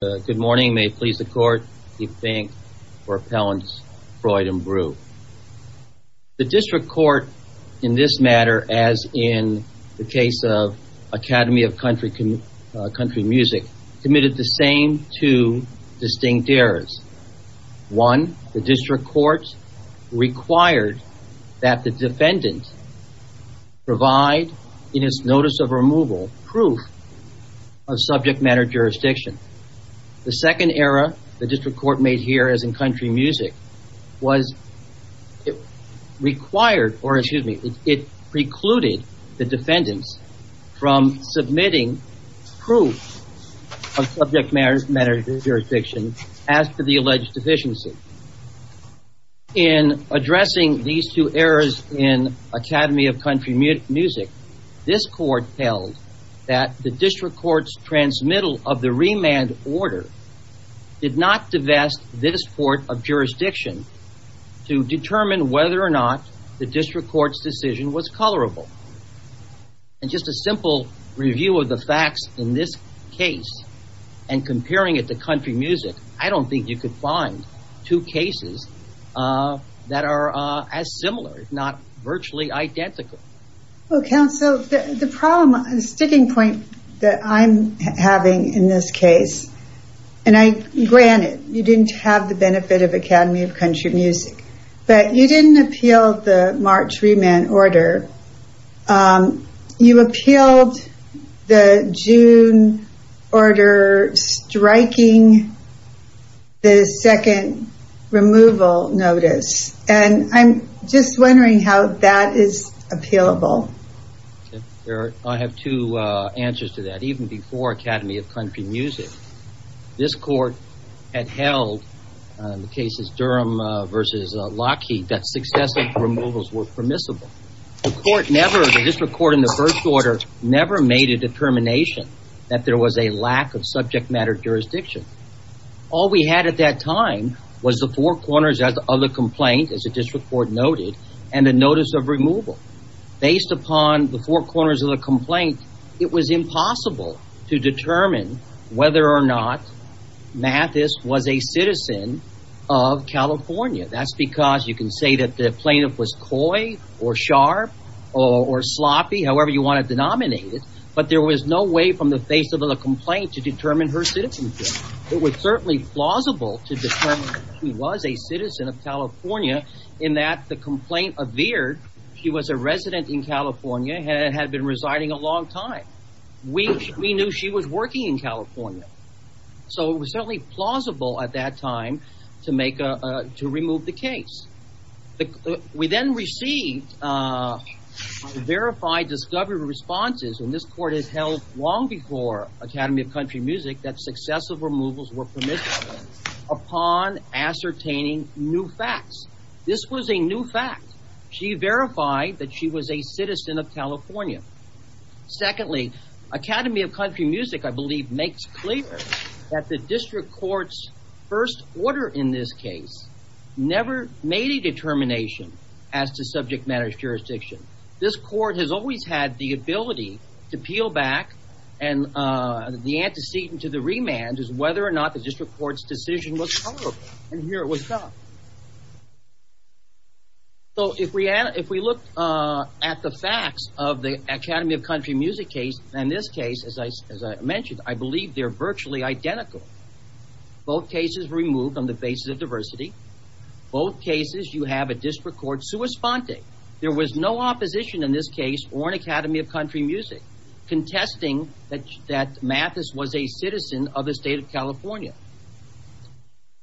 Good morning. May it please the court. The District Court in this matter as in the case of Academy of Country Music committed the same two distinct errors. One, the District Court required that the defendant provide in his notice of removal proof of subject matter jurisdiction. The second error the District Court made here as in Country Music was it required, or excuse me, it precluded the defendants from submitting proof of subject matter jurisdiction as to the alleged deficiency. In addressing these two errors in Academy of Country Music, this court held that the District Court's transmittal of the remand order did not divest this court of jurisdiction to determine whether or not the District Court's decision was colorable. And just a simple review of the facts in this case and comparing it to Country Music, I don't think you could find two cases that are as similar, if not virtually identical. Well, counsel, the problem, the sticking point that I'm having in this case, and granted you didn't have the benefit of Academy of Country Music, but you didn't appeal the March remand order. You appealed the June order striking the second removal notice. And I'm just wondering how that is appealable. I have two answers to that. Even before Academy of Country Music, this court had held, in the cases Durham versus Lockheed, that successive removals were permissible. The District Court in the first order never made a determination that there was a lack of subject matter jurisdiction. All we had at that time was the four corners of the complaint, as the District Court noted, and the notice of removal. Based upon the four corners of the complaint, it was impossible to determine whether or not Mathis was a citizen of California. That's because you can say that the plaintiff was coy or sharp or sloppy, however you want to denominate it, but there was no way from the face of the complaint to determine her citizenship. It was certainly plausible to determine that she was a citizen of California in that the complaint appeared she was a resident in California and had been residing a long time. We knew she was working in California. So it was certainly plausible at that time to remove the case. We then received verified discovery responses, and this court has held long before Academy of Country Music, that successive removals were permissible upon ascertaining new facts. This was a new fact. She verified that she was a citizen of California. Secondly, Academy of Country Music, I believe, makes clear that the District Court's first order in this case never made a determination as to subject matter jurisdiction. This court has always had the ability to peel back, and the antecedent to the remand is whether or not the District Court's decision was tolerable, and here it was not. So if we look at the facts of the Academy of Country Music case and this case, as I mentioned, I believe they're virtually identical. Both cases removed on the basis of diversity. Both cases you have a District Court sui sponte. There was no opposition in this case or in Academy of Country Music contesting that Mathis was a citizen of the state of California.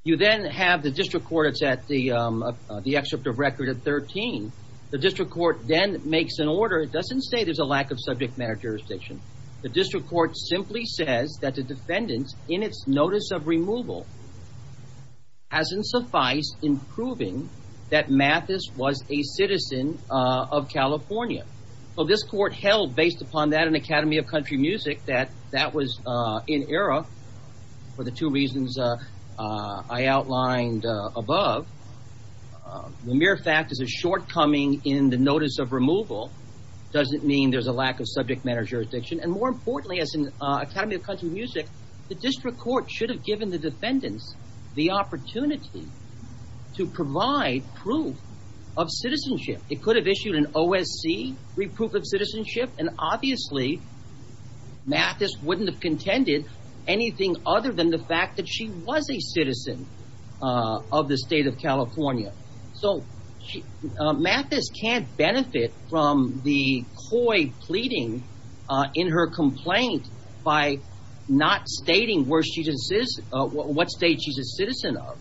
You then have the District Court, it's at the excerpt of record at 13. The District Court then makes an order. It doesn't say there's a lack of subject matter jurisdiction. The District Court simply says that the defendant, in its notice of removal, hasn't sufficed in proving that Mathis was a citizen of California. So this court held, based upon that in Academy of Country Music, that that was in error for the two reasons I outlined above. The mere fact is a shortcoming in the notice of removal doesn't mean there's a lack of subject matter jurisdiction. And more importantly, as in Academy of Country Music, the District Court should have given the defendants the opportunity to provide proof of citizenship. It could have issued an OSC, Reproof of Citizenship, and obviously Mathis wouldn't have contended anything other than the fact that she was a citizen of the state of California. So Mathis can't benefit from the coy pleading in her complaint by not stating what state she's a citizen of.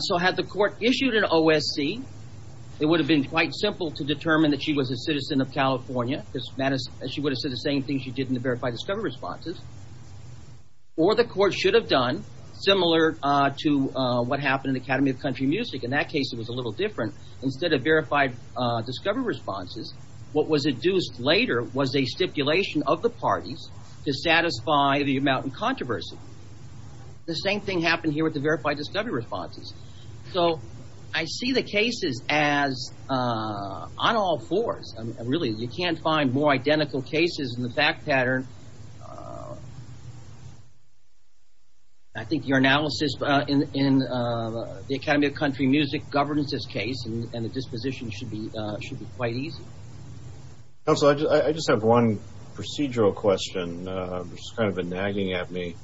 So had the court issued an OSC, it would have been quite simple to determine that she was a citizen of California, because she would have said the same thing she did in the verified discovery responses. Or the court should have done, similar to what happened in the Academy of Country Music, in that case it was a little different. Instead of verified discovery responses, what was induced later was a stipulation of the parties to satisfy the amount of controversy. The same thing happened here with the verified discovery responses. So I see the cases as on all fours. Really, you can't find more identical cases in the fact pattern. I think your analysis in the Academy of Country Music governs this case, and the disposition should be quite easy. Counsel, I just have one procedural question, which has kind of been nagging at me.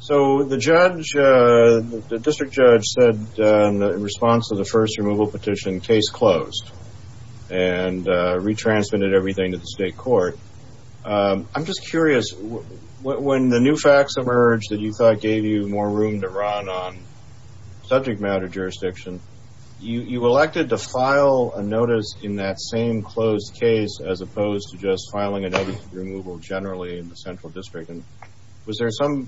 So the judge, the district judge said in response to the first removal petition, case closed, and retransmitted everything to the state court. I'm just curious, when the new facts emerged that you thought gave you more room to run on subject matter jurisdiction, you elected to file a notice in that same closed case, as opposed to just filing another removal generally in the central district. Was there some,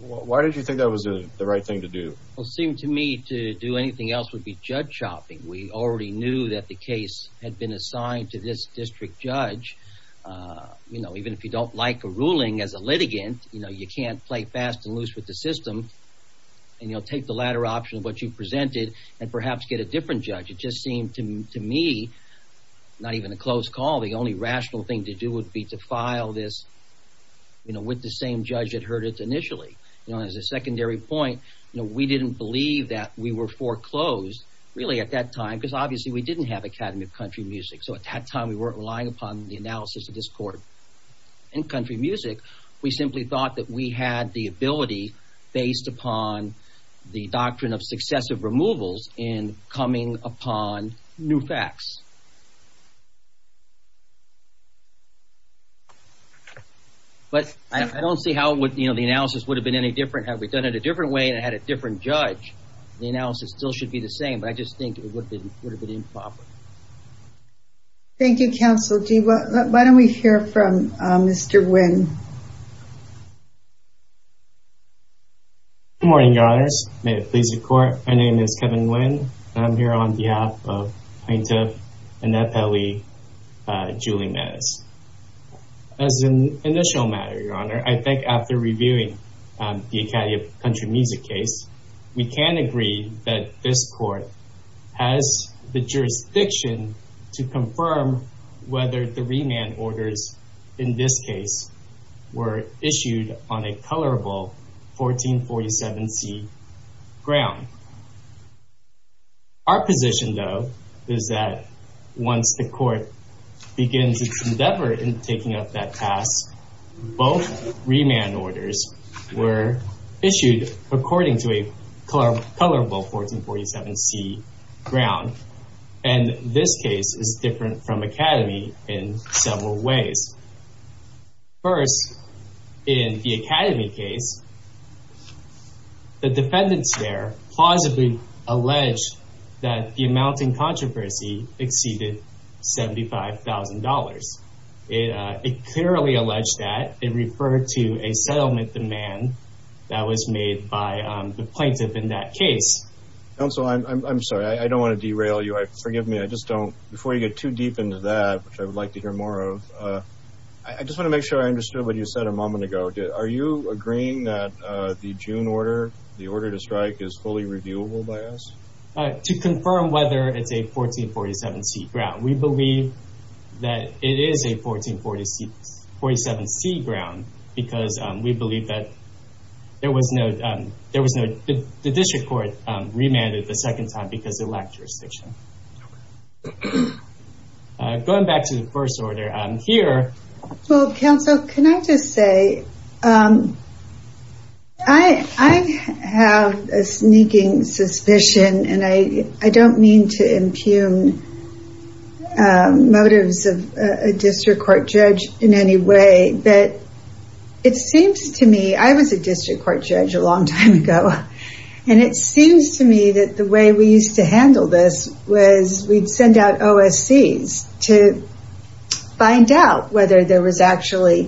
why did you think that was the right thing to do? Well, it seemed to me to do anything else would be judge shopping. We already knew that the case had been assigned to this district judge. You know, even if you don't like a ruling as a litigant, you know, you can't play fast and loose with the system. And you'll take the latter option of what you presented and perhaps get a different judge. It just seemed to me, not even a close call, the only rational thing to do would be to file this, you know, with the same judge that heard it initially, you know, as a secondary point, you know, we didn't believe that we were foreclosed really at that time, because obviously we didn't have Academy of Country Music. So at that time we weren't relying upon the analysis of this court and country music. We simply thought that we had the ability based upon the doctrine of successive removals in coming upon new facts. But I don't see how the analysis would have been any different. Had we done it a different way and had a different judge, the analysis still should be the same. But I just think it would have been improper. Thank you, Counsel G. Why don't we hear from Mr. Nguyen? Good morning, Your Honors. May it please the Court. My name is Kevin Nguyen and I'm here on behalf of Plaintiff Annette Pelley, Julie Mez. As an initial matter, Your Honor, I think after reviewing the Academy of Country Music case, we can agree that this court has the jurisdiction to confirm whether the remand orders in this case were issued on a colorable 1447c ground. Our position, though, is that once the court begins its endeavor in taking up that task, both remand orders were issued according to a colorable 1447c ground. And this case is different from Academy in several ways. First, in the Academy case, the defendants there plausibly alleged that the amount in controversy exceeded $75,000. It clearly alleged that it referred to a settlement demand that was made by the plaintiff in that case. Counsel, I'm sorry. I don't want to derail you. I forgive me. I just don't. Before you get too deep into that, which I would like to hear more of, I just want to make sure I understood what you said a moment ago. Are you agreeing that the June order, the order to strike, is fully reviewable by us? To confirm whether it's a 1447c ground. We believe that it is a 1447c ground because we remanded the second time because it lacked jurisdiction. Going back to the first order here. Well, counsel, can I just say, I have a sneaking suspicion, and I don't mean to impugn motives of a district court judge in any way, but it seems to me, I was a district court judge a long time ago, and it seems to me that the way we used to handle this was we'd send out OSCs to find out whether there was actually,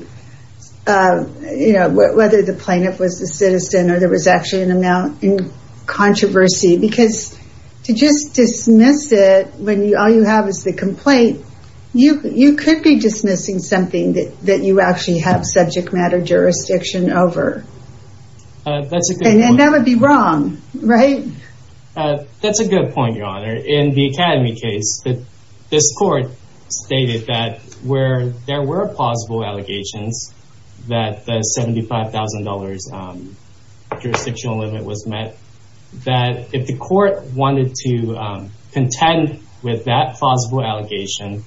whether the plaintiff was the citizen or there was actually an amount in controversy. Because to just dismiss it when all you have is the complaint, you could be dismissing something that you actually have subject matter jurisdiction over. And that would be wrong, right? That's a good point, Your Honor. In the Academy case, this court stated that where there were plausible allegations that the $75,000 jurisdictional limit was met, that if the court wanted to contend with that plausible allegation,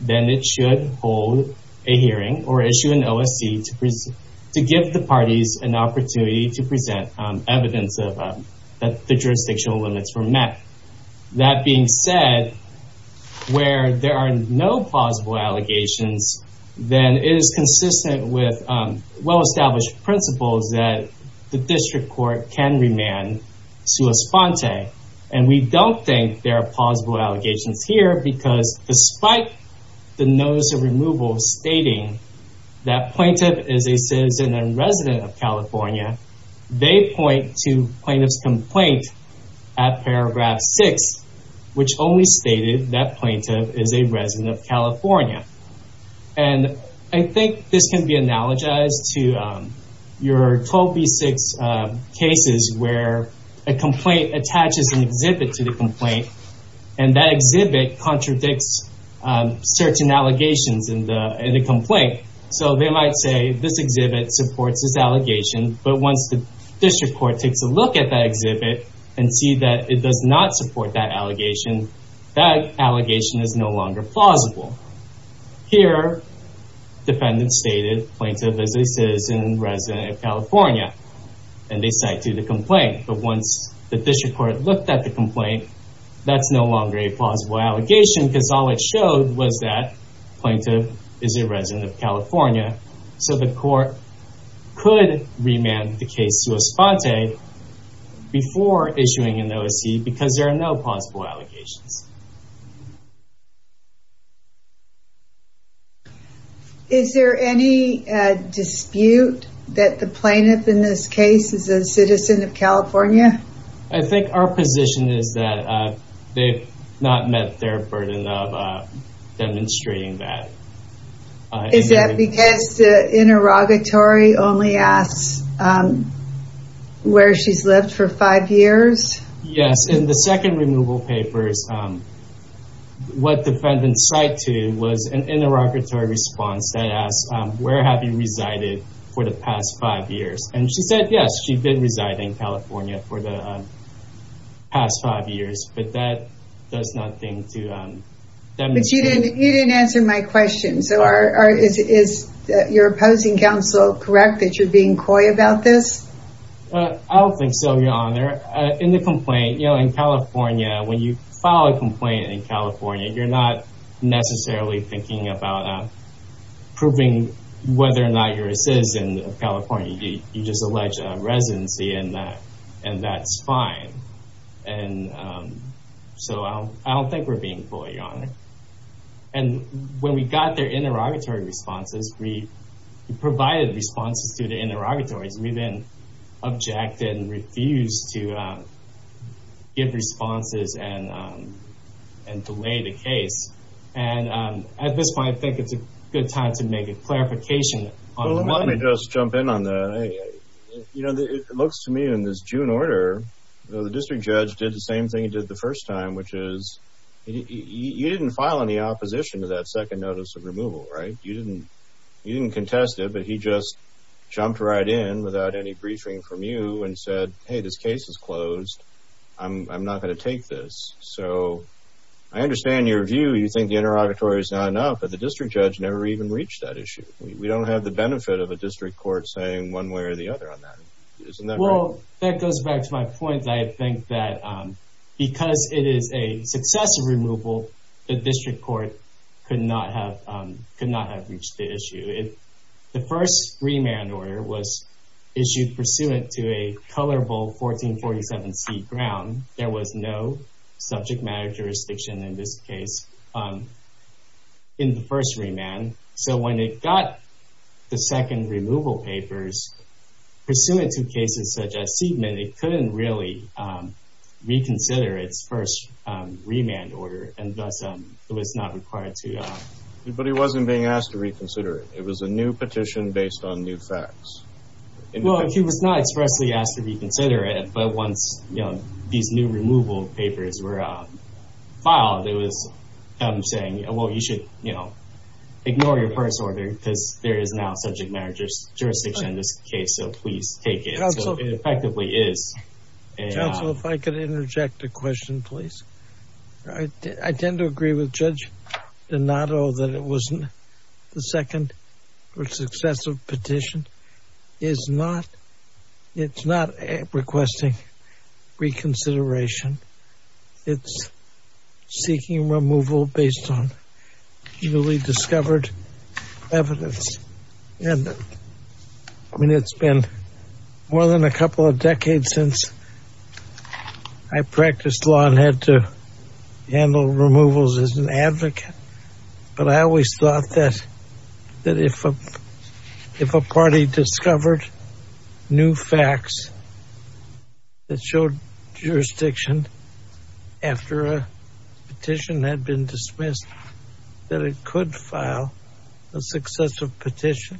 then it should hold a hearing or issue an OSC to give the plaintiff an opportunity to present evidence of that the jurisdictional limits were met. That being said, where there are no plausible allegations, then it is consistent with well established principles that the district court can remand sua sponte, and we don't think there are plausible allegations here because despite the notice of removal stating that plaintiff is a resident of California, they point to plaintiff's complaint at paragraph six, which only stated that plaintiff is a resident of California. And I think this can be analogized to your 12B6 cases where a complaint attaches an exhibit to the complaint, and that exhibit contradicts certain allegations in the complaint. So they might say this exhibit supports this allegation, but once the district court takes a look at that exhibit and see that it does not support that allegation, that allegation is no longer plausible. Here, defendant stated plaintiff is a citizen resident of California, and they cite to the complaint, but once the district court looked at the complaint, that's no longer a plausible allegation because all it showed was that plaintiff is a resident of California. So the court could remand the case sua sponte before issuing an OSC because there are no plausible allegations. Is there any dispute that the plaintiff in this case is a citizen of California? I think our position is that they've not met their burden of demonstrating that. Is that because the interrogatory only asks where she's lived for five years? Yes. In the second removal papers, what defendants cite to was an interrogatory response that asks, where have you resided for the past five years? And she said, yes, she did reside in California for the past five years, but that does not seem to... But you didn't answer my question. So is your opposing counsel correct that you're being coy about this? I don't think so, Your Honor. In the complaint, you know, in California, when you file a complaint in California, you're not you just allege a residency and that's fine. And so I don't think we're being coy, Your Honor. And when we got their interrogatory responses, we provided responses to the interrogatories. We then objected and refused to give responses and delay the case. And at this point, I think it's a good time to make a clarification. Well, let me just jump in on the, you know, it looks to me in this June order, the district judge did the same thing he did the first time, which is he didn't file any opposition to that second notice of removal, right? You didn't, you didn't contest it, but he just jumped right in without any briefing from you and said, hey, this case is closed. I'm not going to take this. So I understand your view. You think the interrogatory is not enough, but the district judge never even reached that benefit of a district court saying one way or the other on that, isn't that right? Well, that goes back to my point. I think that because it is a successive removal, the district court could not have, could not have reached the issue. The first remand order was issued pursuant to a colorable 1447C ground. There was no subject matter jurisdiction in this case in the first remand. So when it got the second removal papers, pursuant to cases such as Seidman, it couldn't really reconsider its first remand order and thus it was not required to. But he wasn't being asked to reconsider it. It was a new petition based on new facts. Well, he was not expressly asked to reconsider it. But once these new removal papers were filed, it was him saying, well, you should, you know, your first order, because there is no subject matter jurisdiction in this case. So please take it. So it effectively is. Counsel, if I could interject a question, please. I tend to agree with Judge Donato that it wasn't the second or successive petition. It's not requesting reconsideration. It's seeking removal based on newly discovered evidence. And I mean, it's been more than a couple of decades since I practiced law and had to handle removals as an advocate, but I always thought that if a party discovered new facts that showed jurisdiction after a petition had been dismissed, that it could file a successive petition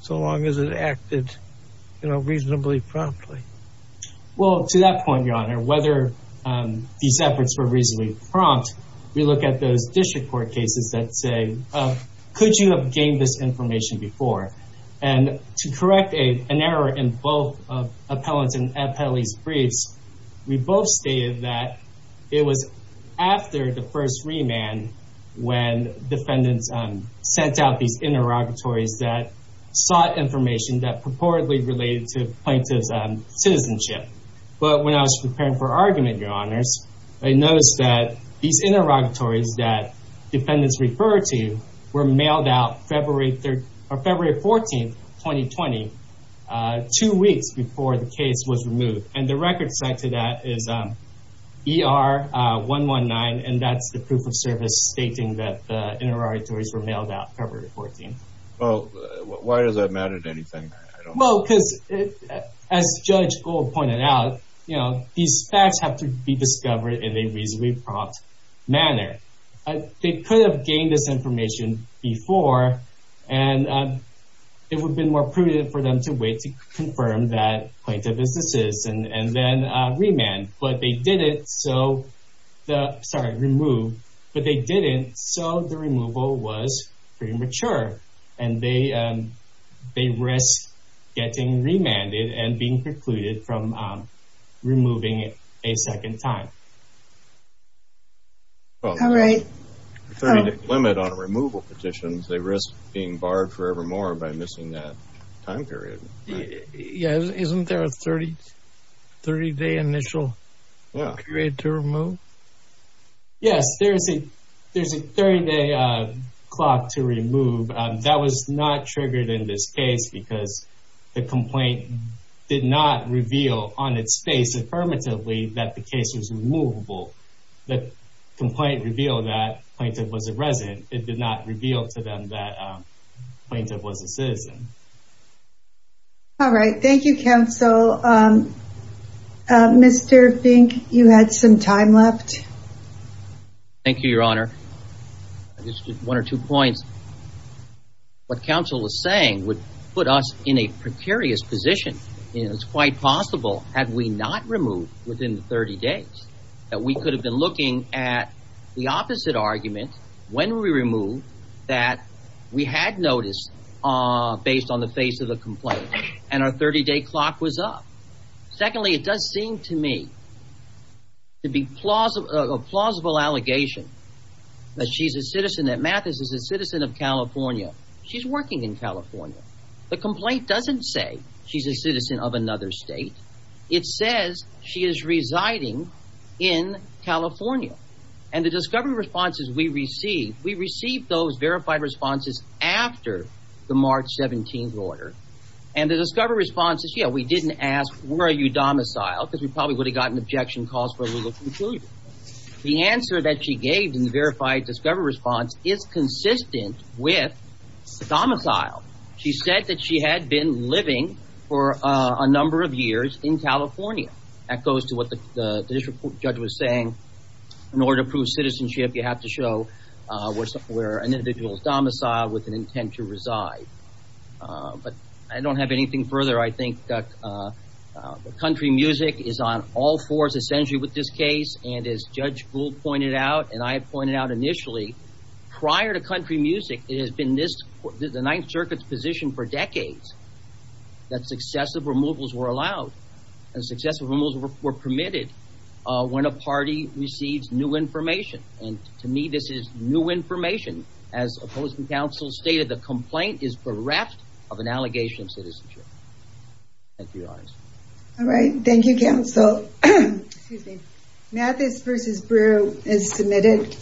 so long as it acted, you know, reasonably promptly. Well, to that point, Your Honor, whether these efforts were reasonably prompt, we look at those district court cases that say, could you have gained this information before? And to correct an error in both of Appellant and Appellee's briefs, we both stated that it was after the first remand when defendants sent out these interrogatories that sought information that purportedly related to plaintiff's citizenship. But when I was preparing for argument, Your Honors, I noticed that these were February 14th, 2020, two weeks before the case was removed. And the record set to that is ER 119. And that's the proof of service stating that the interrogatories were mailed out February 14th. Well, why does that matter to anything? Well, because as Judge Gold pointed out, you know, these facts have to be discovered in a reasonably prompt manner. They could have gained this information before, and it would have been more prudent for them to wait to confirm that plaintiff is a citizen and then remand. But they didn't. So, sorry, remove. But they didn't. So the removal was premature and they risked getting remanded and being precluded from removing it a second time. Well, the 30-day limit on removal petitions, they risk being barred forever more by missing that time period. Yeah. Isn't there a 30-day initial period to remove? Yes, there is a 30-day clock to remove. That was not triggered in this case because the complaint did not reveal on its face affirmatively that the case was removable. The complaint revealed that the plaintiff was a resident. It did not reveal to them that the plaintiff was a citizen. All right. Thank you, counsel. Mr. Fink, you had some time left. Thank you, Your Honor. I just did one or two points. What counsel is saying would put us in a precarious position. It's quite possible had we not removed within 30 days that we could have been looking at the opposite argument when we removed that we had noticed based on the face of the complaint and our 30-day clock was up. Secondly, it does seem to me to be plausible, a plausible allegation that she's a citizen that Mathis is a citizen of California. She's working in California. The complaint doesn't say she's a citizen of another state. It says she is residing in California. And the discovery responses we received, we received those verified responses after the March 17th order. And the discovery response is, yeah, we didn't ask, where are you domiciled? Because we probably would have gotten objection calls for a legal conclusion. The answer that she gave in the verified discovery response is consistent with domicile. She said that she had been living for a number of years in California. That goes to what the district judge was saying. In order to prove citizenship, you have to show where an individual is domiciled with an intent to reside. But I don't have anything further. I think that country music is on all fours, essentially, with this case. And as Judge Gould pointed out and I pointed out initially, prior to country music, it has been this the Ninth Circuit's position for decades that successive removals were allowed and successive removals were permitted when a party receives new information. And to me, this is new information. As opposing counsel stated, the complaint is bereft of an allegation of citizenship. Thank you, Your Honor. All right. Thank you, counsel. Mathis v. Brew is submitted.